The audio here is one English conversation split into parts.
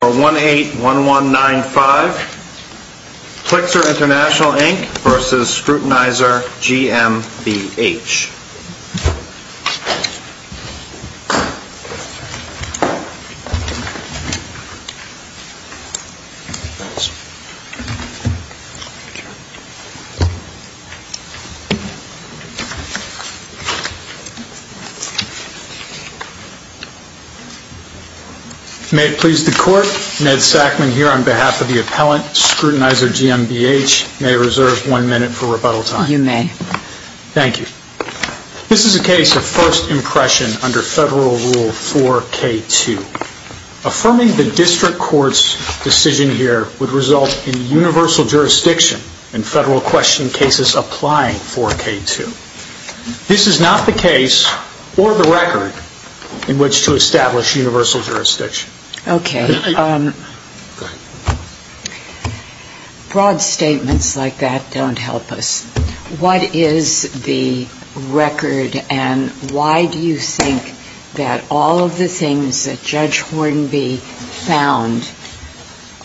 181195, Flixer International, Inc. v. Scrutinizer GMBH. May it please the Court, Ned Sackman here on behalf of the appellant, Scrutinizer GMBH, may I reserve one minute for rebuttal time? You may. Thank you. This is a case of first impression under Federal Rule 4K2. Affirming the district court's decision here would result in universal jurisdiction in Federal question cases applying 4K2. This is not the case or the record in which to establish universal jurisdiction. Okay. Broad statements like that don't help us. What is the record, and why do you think that all of the things that Judge Hornby found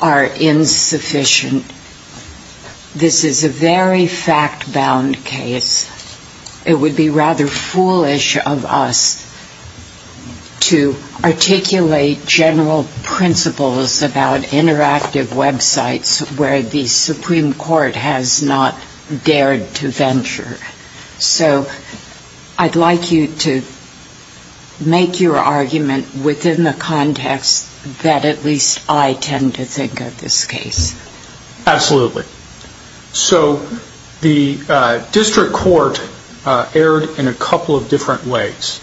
are insufficient? This is a very fact-bound case. It would be rather foolish of us to articulate general principles about interactive websites where the Supreme Court has not dared to venture. So I'd like you to make your argument within the context that at least I tend to think of this case. Absolutely. So the district court erred in a couple of different ways.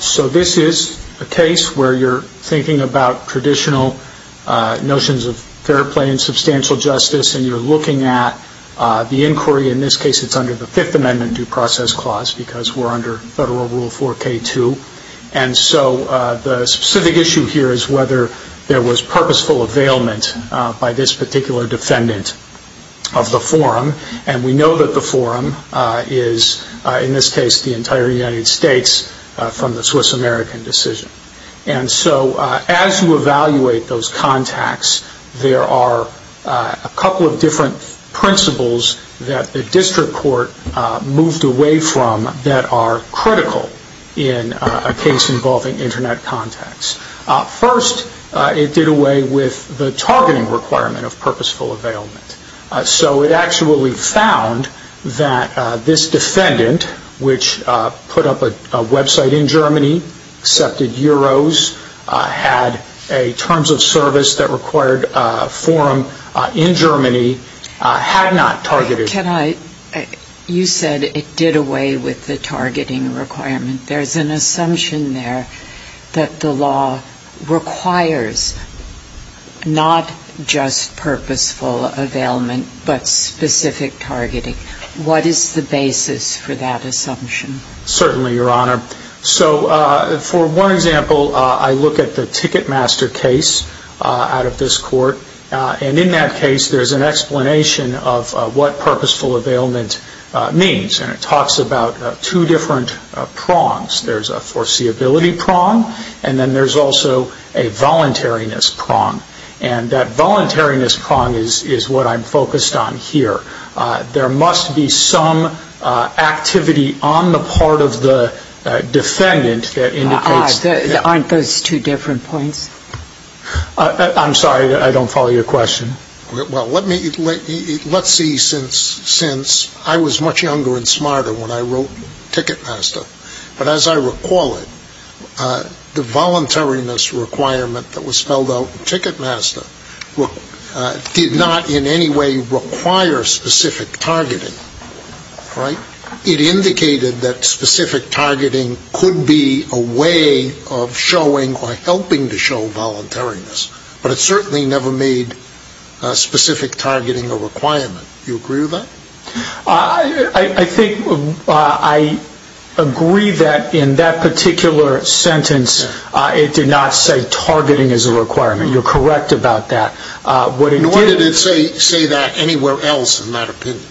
So this is a case where you're thinking about traditional notions of fair play and substantial justice, and you're looking at the inquiry. In this case, it's under the Fifth Amendment due process clause because we're under Federal Rule 4K2. And so the specific issue here is whether there was purposeful availment by this particular defendant of the forum. And we know that the forum is, in this case, the entire United States from the Swiss-American decision. And so as you evaluate those contacts, there are a couple of different principles that the district court moved away from that are critical in a case involving Internet contacts. First, it did away with the targeting requirement of purposeful availment. So it actually found that this defendant, which put up a website in Germany, accepted Euros, had a terms of service that required a forum in Germany, had not targeted. Can I? You said it did away with the targeting requirement. There's an assumption there that the law requires not just purposeful availment, but specific targeting. What is the basis for that assumption? Certainly, Your Honor. So for one example, I look at the Ticketmaster case out of this court. And in that case, there's an explanation of what purposeful availment means. And it talks about two different prongs. There's a foreseeability prong, and then there's also a voluntariness prong. And that voluntariness prong is what I'm focused on here. There must be some activity on the part of the defendant that indicates... Aren't those two different points? I'm sorry. I don't follow your question. Well, let's see. Since I was much younger and smarter when I wrote Ticketmaster. But as I recall it, the voluntariness requirement that was spelled out in Ticketmaster did not in any way require specific voluntariness. But it certainly never made specific targeting a requirement. Do you agree with that? I agree that in that particular sentence, it did not say targeting is a requirement. You're correct about that. Nor did it say that anywhere else in that opinion.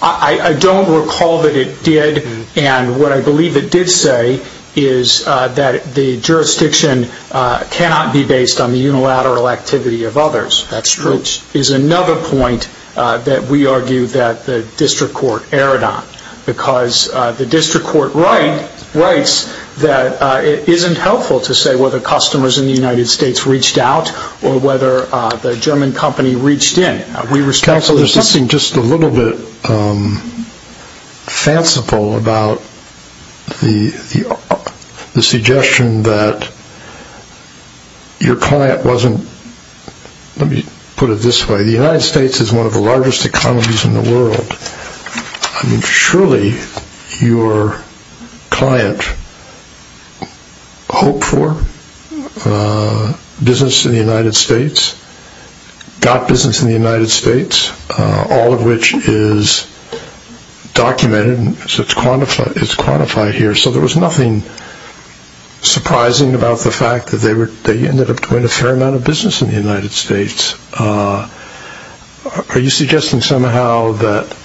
I don't recall that it did. And what I believe it did say is that the jurisdiction cannot be based on the unilateral activity of others. Which is another point that we argue that the district court erred on. Because the district court writes that it isn't helpful to say whether customers in the United States reached out or whether the German company reached in. Counsel, there's something just a little bit fanciful about the suggestion that your client wasn't... Let me put it this way. The United States is one of the largest economies in the world. Surely your client hoped for business in the United States, got business in the United States, all of which is documented and is quantified here. So there was nothing surprising about the fact that they ended up doing a fair amount of business in the United States. Are you suggesting somehow that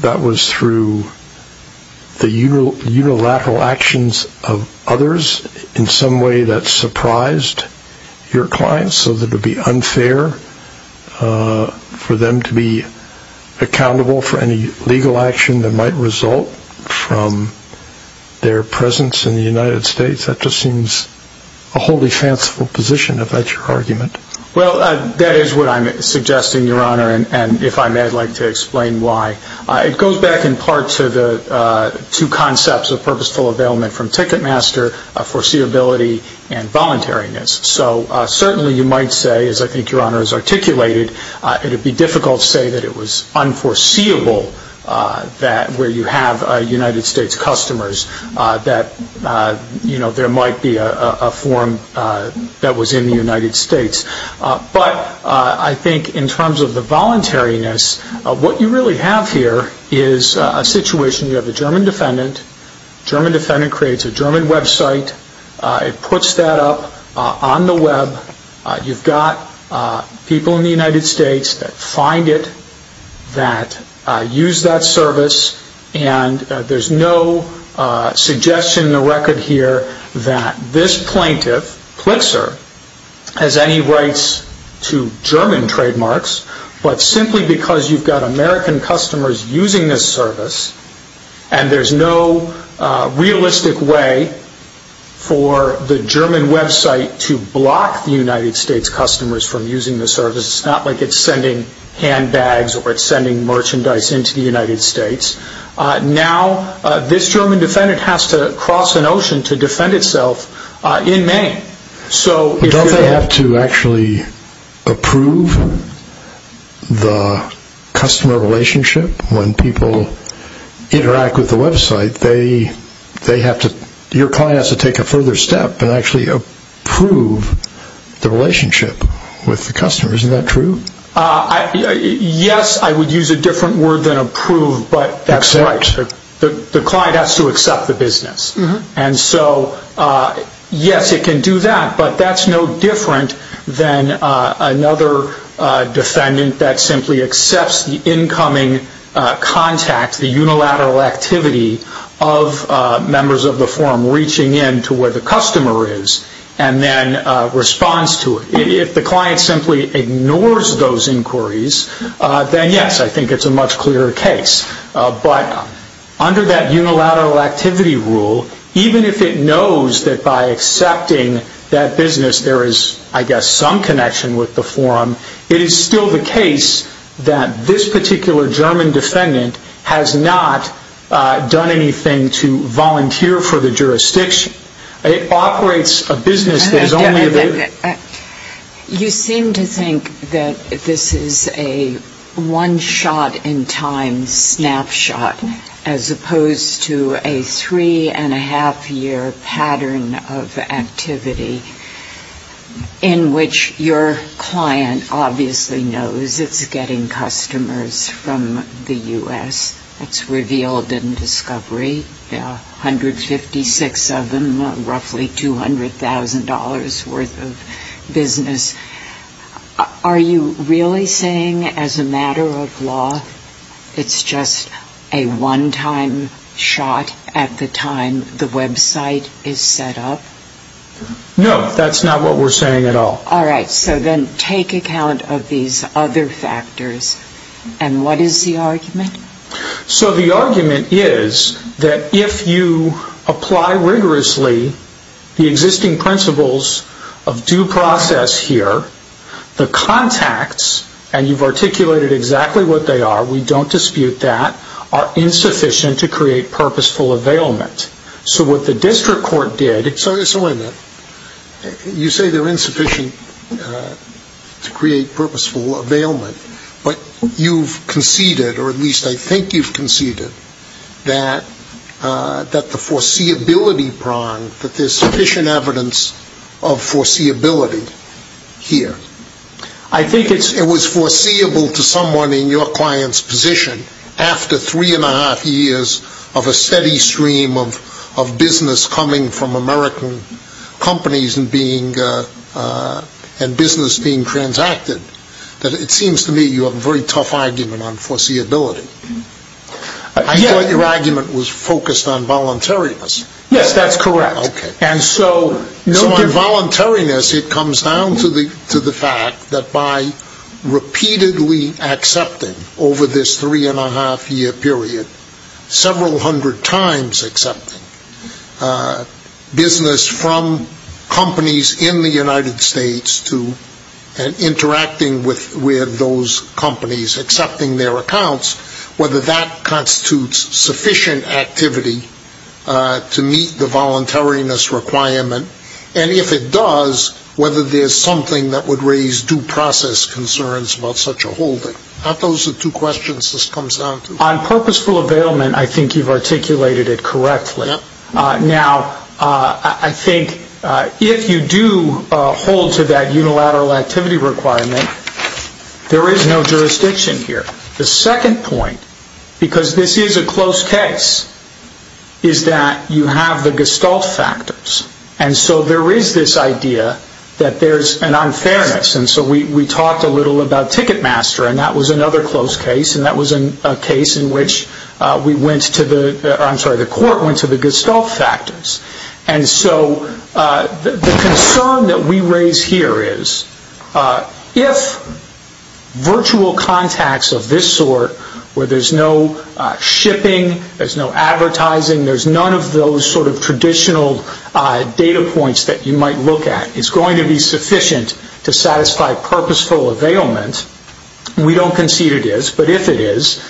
that was through the unilateral actions of others in some way that surprised your client so that it would be unfair for them to be accountable for any legal action that might result from their presence in the United States? That just seems a wholly fanciful position about your argument. Well, that is what I'm suggesting, Your Honor. And if I may, I'd like to explain why. It goes back in part to the two concepts of purposeful availment from Ticketmaster, foreseeability and voluntariness. So certainly you might say, as I think Your Honor has articulated, it would be difficult to say that it was unforeseeable that where you have United States customers, that there might be a form that was in the United States. But I think in terms of the voluntariness, what you really have here is a situation. You have a German defendant. The German defendant creates a German website. It puts that up on the web. You've got people in the United States that find it, that use that service. And there's no suggestion in this case that it has any rights to German trademarks, but simply because you've got American customers using this service, and there's no realistic way for the German website to block the United States customers from using the service. It's not like it's sending handbags or it's sending merchandise into the United States. Now, this German defendant has to cross an ocean to defend itself in Maine. But don't they have to actually approve the customer relationship when people interact with the website? Your client has to take a further step and actually approve the relationship with the customer. Isn't that true? Yes, I would use a different word than approve, but that's right. The client has to accept the business. And so, yes, it can do that, but that's no different than another defendant that simply accepts the incoming contact, the unilateral activity of members of the forum reaching in to where the customer is and then responds to it. If the client simply ignores those inquiries, then yes, I think it's a much clearer case. But under that unilateral activity rule, even if it knows that by accepting that business there is, I guess, some connection with the forum, it is still the case that this particular German defendant has not done anything to volunteer for the jurisdiction. It operates a business that is only there... You seem to think that this is a one-shot-in-time snapshot as opposed to a three-and-a-half-year pattern of activity in which your client obviously knows it's getting customers from the U.S. It's revealed in Discovery, 156 of them, roughly $200,000 worth of business. Are you really saying as a matter of law it's just a one-time shot at the time the website is set up? No, that's not what we're saying at all. All right, so then take account of these other factors. And what is the argument? So the argument is that if you apply rigorously the existing principles of due process here, the contacts, and you've articulated exactly what they are, we don't dispute that, are insufficient to create purposeful availment. So what the district court did... So wait a minute. You say they're insufficient to create purposeful availment, but you've conceded, or at least I think you've conceded, that the foreseeability prong, that there's sufficient evidence of foreseeability here. I think it was foreseeable to someone in your client's position after three-and-a-half years of a steady stream of business coming from American companies and business being transacted that it seems to me you have a very tough argument on foreseeability. I thought your argument was focused on voluntariness. Yes, that's correct. Okay. And so on voluntariness it comes down to the fact that by repeatedly accepting over this three-and-a-half year period, several hundred times accepting a business from companies in the United States to interacting with those companies, accepting their accounts, whether that constitutes sufficient activity to meet the voluntariness requirement, and if it does, whether there's something that would raise due process concerns about such a holding. Aren't those the two questions this comes down to? On purposeful availment, I think you've articulated it correctly. Now, I think if you do hold to that unilateral activity requirement, there is no jurisdiction here. The second point, because this is a close case, is that you have the gestalt factors. And so there is this idea that there's an unfairness. And so we talked a little about Ticketmaster, and that was another close case. And that was a case in which we went to the, I'm sorry, the court went to the gestalt factors. And so the concern that we raise here is if virtual contacts of this sort, where there's no shipping, there's no advertising, there's none of those sort of traditional data points that you might look at, is going to be sufficient to satisfy purposeful availment. We don't concede it is, but if it is,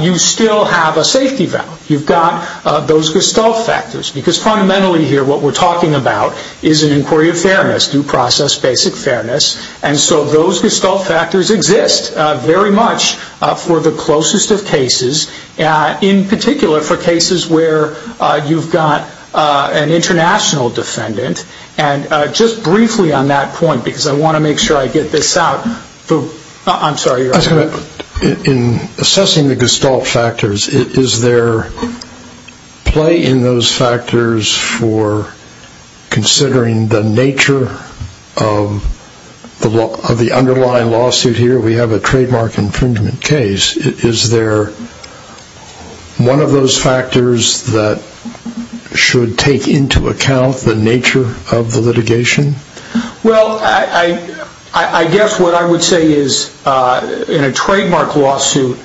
you still have a safety valve. You've got those gestalt factors. Because fundamentally here, what we're talking about is an inquiry of fairness, due process basic fairness. And so those gestalt factors exist very much for the closest of cases, in particular for cases where you've got an international defendant. And just briefly on that point, because I want to make sure I get this out, I'm sorry. In assessing the gestalt factors, is there play in those factors for considering the nature of the underlying lawsuit here? We have a trademark infringement case. Is there one of those factors that should take into account the nature of the litigation? Well, I guess what I would say is, in a trademark lawsuit,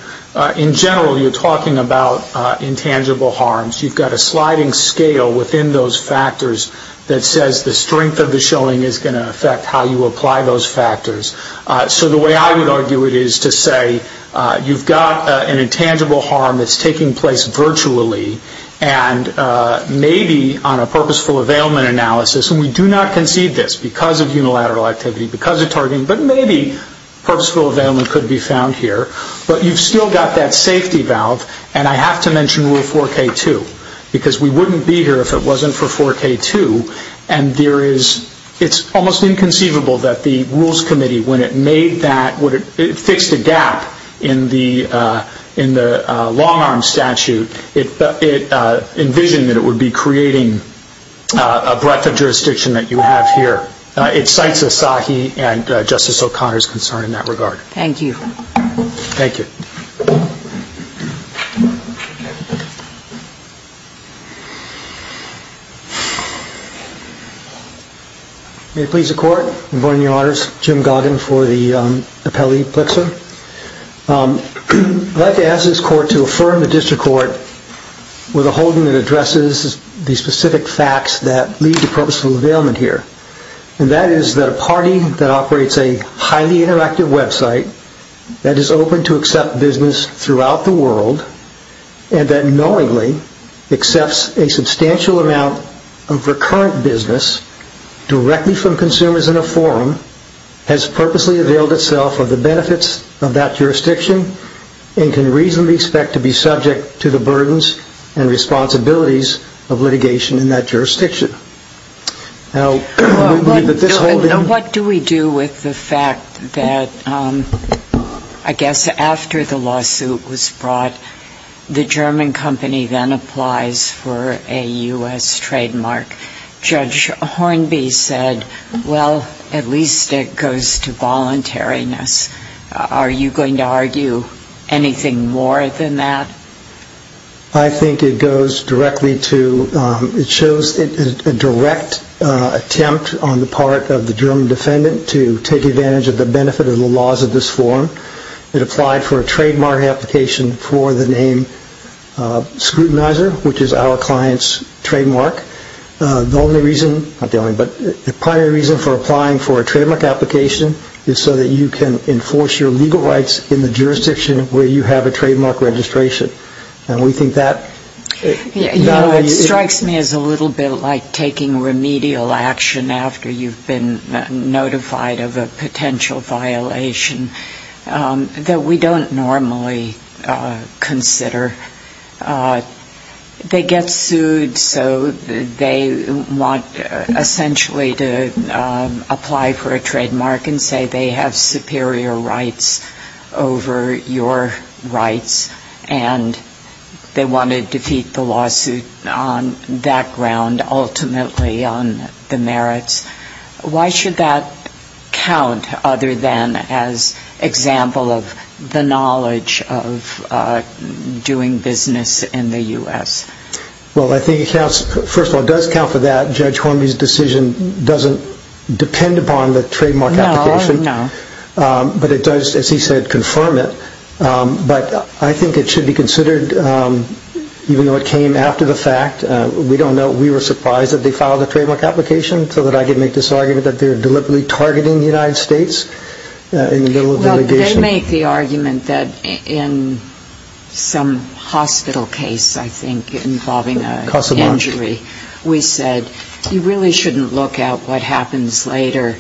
in general, you're talking about intangible harms. You've got a sliding scale within those factors that says the strength of the showing is going to affect how you apply those factors. So the way I would argue it is to say, you've got an intangible harm that's taking place virtually, and maybe on a purposeful availment analysis. And we do not concede this, because of unilateral activity, because of targeting. But maybe purposeful availment could be found here. But you've still got that safety valve. And I have to mention Rule 4K2, because we wouldn't be here if it wasn't for 4K2. And it's almost inconceivable that the Rules Committee, when it made that, fixed a gap in the long-arm statute. It envisioned that it would be creating a breadth of jurisdiction that you have here. It cites Asahi and Justice O'Connor's concern in that regard. Thank you. Thank you. May it please the Court. Good morning, Your Honors. Jim Goggin for the Appellee Plitzer. I'd like to ask this Court to affirm the District Court with a holding that addresses the specific facts that lead to purposeful availment here. And that is that a party that operates a highly interactive website, that is open to accept business throughout the world, and that knowingly accepts a substantial amount of recurrent business directly from consumers in a forum, has purposely availed itself of the benefits of that jurisdiction, and can reasonably expect to be subject to the burdens and responsibilities of litigation in that jurisdiction. Now, what do we do with the fact that, I guess, after the lawsuit was brought, the German company then applies for a U.S. trademark? Judge Hornby said, well, at least it goes to voluntariness. Are you going to argue anything more than that? I think it goes directly to, it shows a direct attempt on the part of the German defendant to take advantage of the benefit of the laws of this forum. It applied for a trademark application for the name scrutinizer, which is our client's trademark. The only reason, not the only, but the primary reason for applying for a trademark application is so that you can enforce your legal rights in the jurisdiction where you have a trademark registration. And we think that... You know, it strikes me as a little bit like taking remedial action after you've been notified of a potential violation that we don't normally consider. They get sued, so they want essentially to apply for a trademark and say they have superior rights over your rights, and they want to defeat the lawsuit on that ground, ultimately on the merits. Why should that count other than as example of the knowledge of doing business in the U.S.? Well, I think it counts, first of all, it does count for that. Judge Hornby's decision doesn't depend upon the trademark application. No, no. But it does, as he said, confirm it. But I think it should be considered, even though it came after the fact. We don't know. We were surprised that they filed a trademark application so that I could make this argument that they're deliberately targeting the United States in the middle of the litigation. Well, they make the argument that in some hospital case, I think, involving an injury, we said you really shouldn't look at what happens later.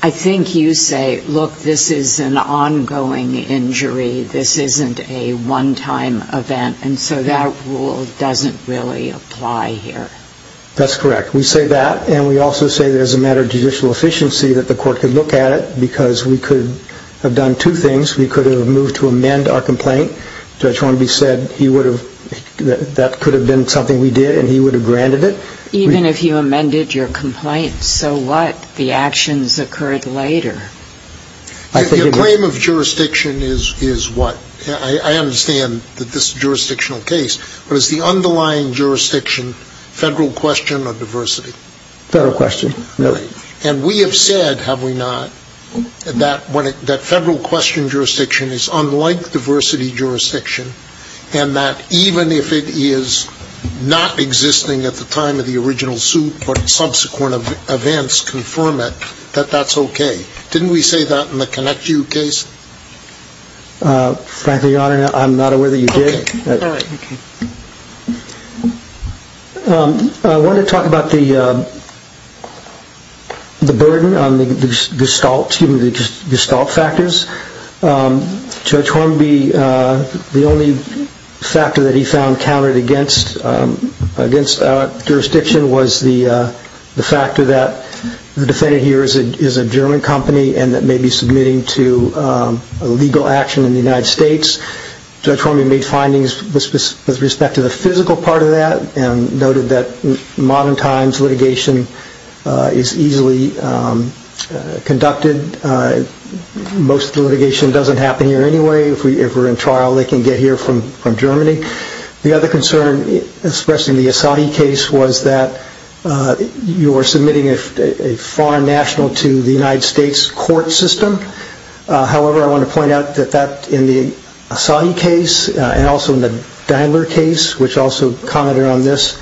I think you say, look, this is an ongoing injury. This isn't a one-time event. And so that rule doesn't really apply here. That's correct. We say that. And we also say that as a matter of judicial efficiency, that the court could look at it because we could have done two things. We could have moved to amend our complaint. Judge Hornby said that could have been something we did, and he would have granted it. Even if you amended your complaint, so what? The actions occurred later. Your claim of jurisdiction is what? I understand that this jurisdictional case, but is the underlying jurisdiction federal question or diversity? Federal question. And we have said, have we not, that federal question jurisdiction is unlike diversity jurisdiction, and that even if it is not existing at the time of the original suit, but subsequent events confirm it, that that's OK. Didn't we say that in the ConnectU case? Frankly, Your Honor, I'm not aware that you did. OK. I want to talk about the burden on the gestalt factors. Judge Hornby, the only factor that he found countered against our jurisdiction was the legal action in the United States. Judge Hornby made findings with respect to the physical part of that and noted that modern times litigation is easily conducted. Most litigation doesn't happen here anyway. If we're in trial, they can get here from Germany. The other concern expressed in the Asadi case was that you were submitting a foreign national to the United States court system. However, I want to point out that that in the Asadi case and also in the Dandler case, which also commented on this,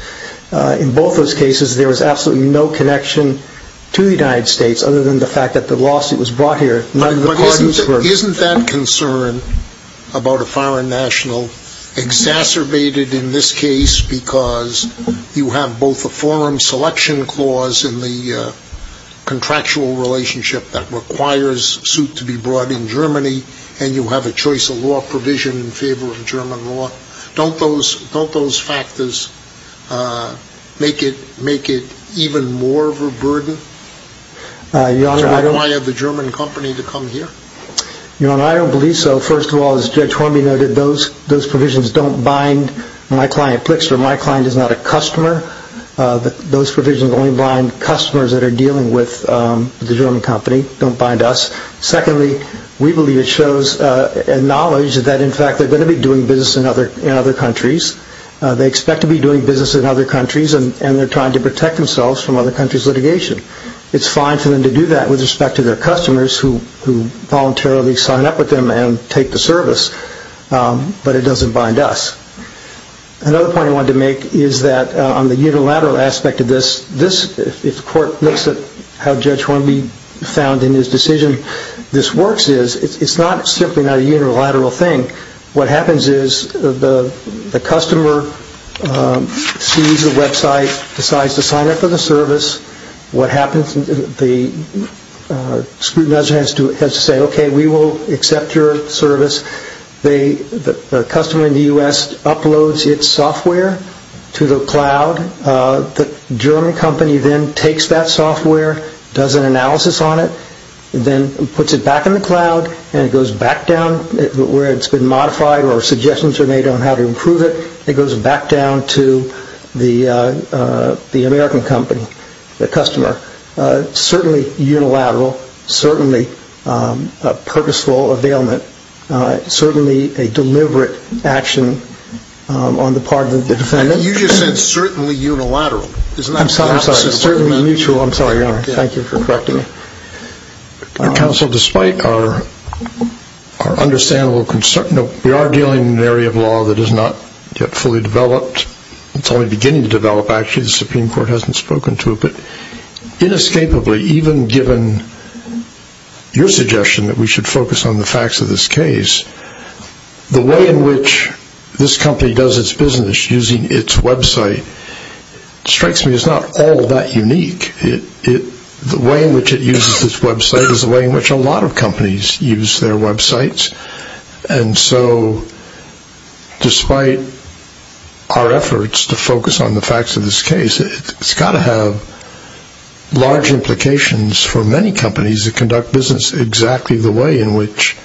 in both those cases, there was absolutely no connection to the United States other than the fact that the lawsuit was brought here. Isn't that concern about a foreign national exacerbated in this case because you have a forum selection clause in the contractual relationship that requires a suit to be brought in Germany and you have a choice of law provision in favor of German law? Don't those factors make it even more of a burden to require the German company to come here? I don't believe so. First of all, as Judge Hornby noted, those provisions don't bind my client. My client is not a customer. Those provisions only bind customers that are dealing with the German company. Don't bind us. Secondly, we believe it shows a knowledge that in fact they're going to be doing business in other countries. They expect to be doing business in other countries and they're trying to protect themselves from other countries' litigation. It's fine for them to do that with respect to their customers who voluntarily sign up with them and take the service, but it doesn't bind us. Another point I wanted to make is that on the unilateral aspect of this, if the court looks at how Judge Hornby found in his decision this works is, it's not simply a unilateral thing. What happens is the customer sees the website, decides to sign up for the service. What happens is the scrutinizer has to say, okay, we will accept your service. The customer in the U.S. uploads its software to the cloud. The German company then takes that software, does an analysis on it, then puts it back in the cloud and it goes back down where it's been modified or suggestions are made on how to improve it. It goes back down to the American company, the customer. Certainly unilateral. Certainly a purposeful availment. Certainly a deliberate action on the part of the defendant. You just said certainly unilateral. I'm sorry, I'm sorry. Certainly mutual. I'm sorry, Your Honor. Thank you for correcting me. Counsel, despite our understandable concern, we are dealing with an area of law that is not yet fully developed. It's only beginning to develop, actually. The Supreme Court hasn't spoken to it. But inescapably, even given your suggestion that we should focus on the facts of this case, the way in which this company does its business using its website strikes me as not all that unique. The way in which it uses its website is the way in which a lot of companies use their websites. And so despite our efforts to focus on the facts of this case, it's got to have large implications for many companies that conduct business exactly the way in which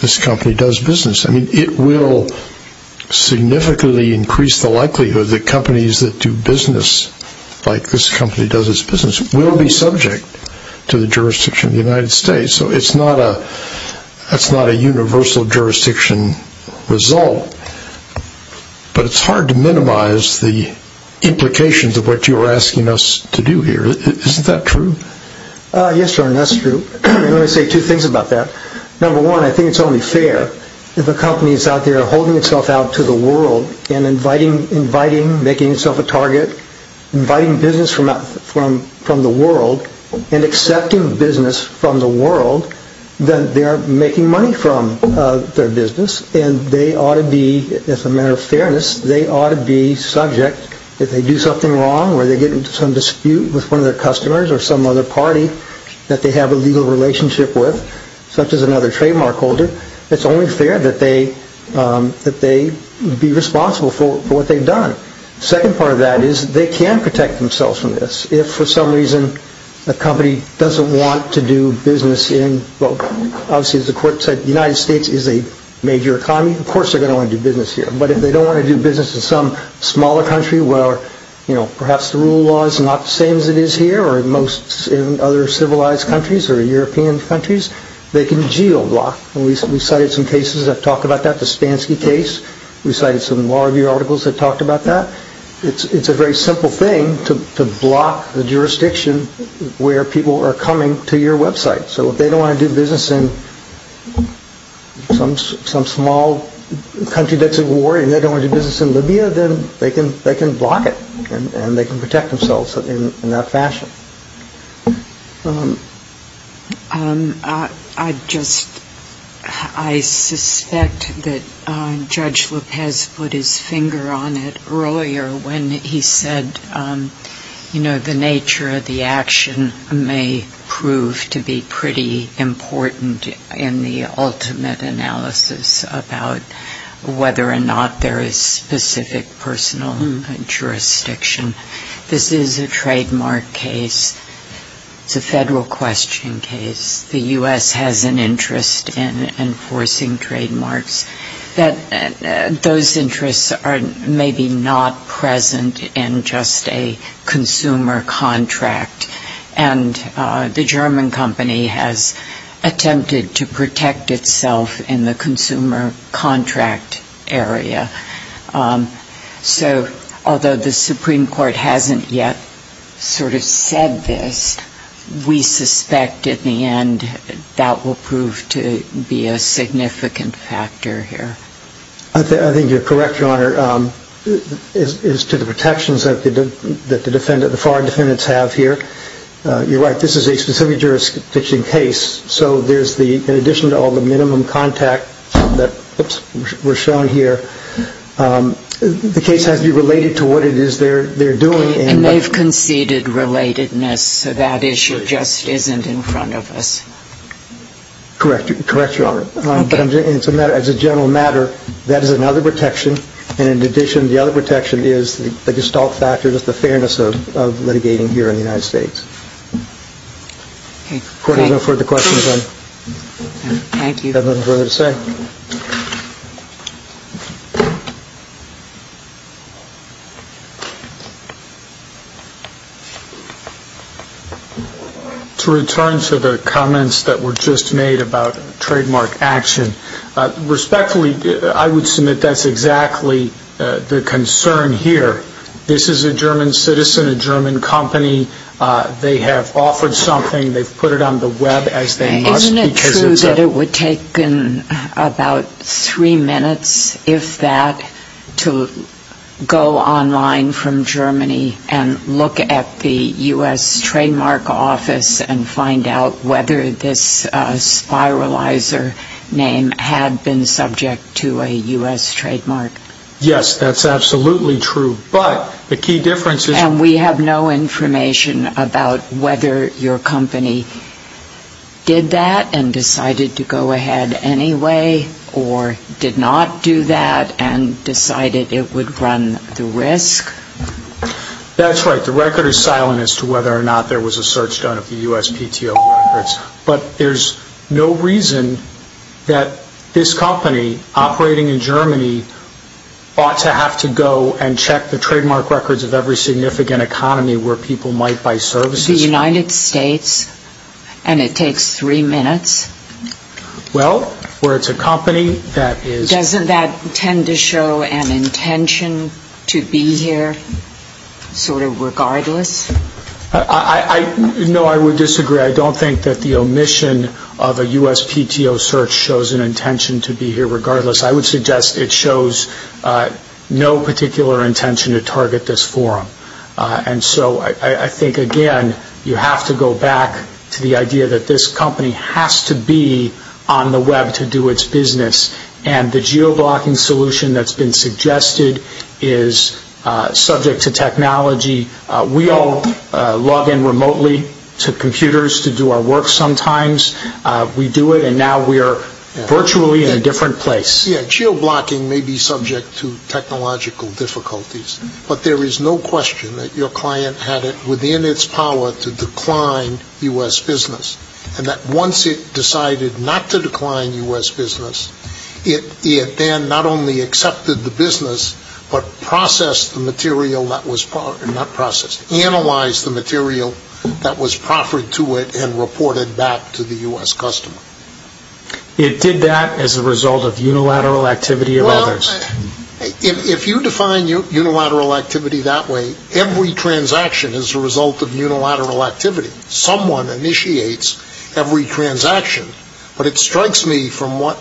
this company does business. I mean, it will significantly increase the likelihood that companies that do business like this company does its business will be subject to the jurisdiction of the United States. So it's not a universal jurisdiction result. But it's hard to minimize the implications of what you're asking us to do here. Isn't that true? Yes, Your Honor, that's true. Let me say two things about that. Number one, I think it's only fair if a company is out there holding itself out to the world and inviting, making itself a target, inviting business from the world and accepting business from the world that they are making money from their business. And they ought to be, as a matter of fairness, they ought to be subject if they do something wrong or they get into some dispute with one of their customers or some other party that they have a legal relationship with, such as another trademark holder. It's only fair that they be responsible for what they've done. Second part of that is they can protect themselves from this. If, for some reason, a company doesn't want to do business in, well, obviously, as the court said, the United States is a major economy. Of course, they're going to want to do business here. But if they don't want to do business in some smaller country where, you know, perhaps the rule of law is not the same as it is here or in most other civilized countries or European countries, they can geoblock. And we cited some cases that talk about that, the Spansky case. We cited some law review articles that talked about that. It's a very simple thing to block the jurisdiction where people are coming to your website. So if they don't want to do business in some small country that's at war and they don't want to do business in Libya, then they can block it and they can protect themselves in that fashion. I just, I suspect that Judge Lopez put his finger on it earlier when he said, you know, the nature of the action may prove to be pretty important in the ultimate analysis about whether or not there is specific personal jurisdiction. This is a trademark case. It's a federal question case. The U.S. has an interest in enforcing trademarks. Those interests are maybe not present in just a consumer contract. And the German company has attempted to protect itself in the consumer contract area. So although the Supreme Court hasn't yet sort of said this, we suspect in the end that will prove to be a significant factor here. I think you're correct, Your Honor, as to the protections that the foreign defendants have here. You're right. This is a specific jurisdiction case. So there's the, in addition to all the minimum contact that were shown here, the case has to be related to what it is they're doing. And they've conceded relatedness. That issue just isn't in front of us. Correct. Correct, Your Honor. As a general matter, that is another protection. And in addition, the other protection is the gestalt factor, the fairness of litigating here in the United States. Okay. Court, are there no further questions? Thank you. Got nothing further to say? To return to the comments that were just made about trademark action, respectfully, I would submit that's exactly the concern here. This is a German citizen, a German company. They have offered something. They've put it on the web as they must. Isn't it true that it would take them about three minutes, if that, to go online from Germany and look at the U.S. Trademark Office and find out whether this spiralizer name had been subject to a U.S. trademark? Yes, that's absolutely true. But the key difference is... And we have no information about whether your company did that and decided to go ahead anyway or did not do that and decided it would run the risk? That's right. The record is silent as to whether or not there was a search done of the U.S. PTO records. But there's no reason that this company operating in Germany ought to have to go and look at the trademark records of every significant economy where people might buy services. The United States, and it takes three minutes? Well, where it's a company that is... Doesn't that tend to show an intention to be here sort of regardless? No, I would disagree. I don't think that the omission of a U.S. PTO search shows an intention to be here regardless. I would suggest it shows no particular intention to target this forum. And so I think, again, you have to go back to the idea that this company has to be on the web to do its business. And the geo-blocking solution that's been suggested is subject to technology. We all log in remotely to computers to do our work sometimes. We do it and now we are virtually in a different place. Yeah, geo-blocking may be subject to technological difficulties, but there is no question that your client had it within its power to decline U.S. business. And that once it decided not to decline U.S. business, it then not only accepted the business, but processed the material that was... Not processed. Analyzed the material that was proffered to it and reported back to the U.S. customer. It did that as a result of unilateral activity of others. Well, if you define unilateral activity that way, every transaction is a result of unilateral activity. Someone initiates every transaction. But it strikes me from what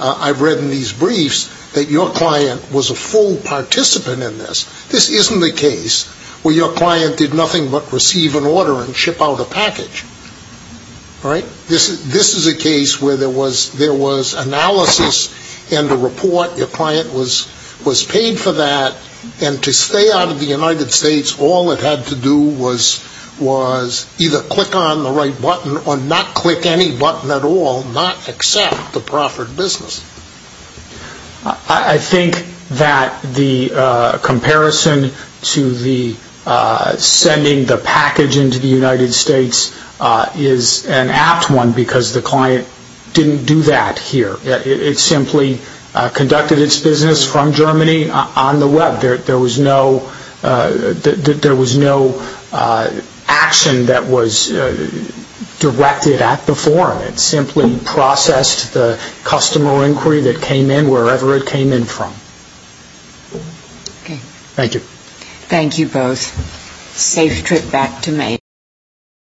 I've read in these briefs that your client was a full participant in this. This isn't the case where your client did nothing but receive an order and ship out a package. Right? This is a case where there was analysis and a report. Your client was paid for that. And to stay out of the United States, all it had to do was either click on the right button or not click any button at all, not accept the proffered business. I think that the comparison to the sending the package into the United States is an apt one because the client didn't do that here. It simply conducted its business from Germany on the web. There was no action that was directed at the forum. It simply processed the customer inquiry that came in wherever it came in from. Okay. Thank you. Thank you both. Safe trip back to Maine.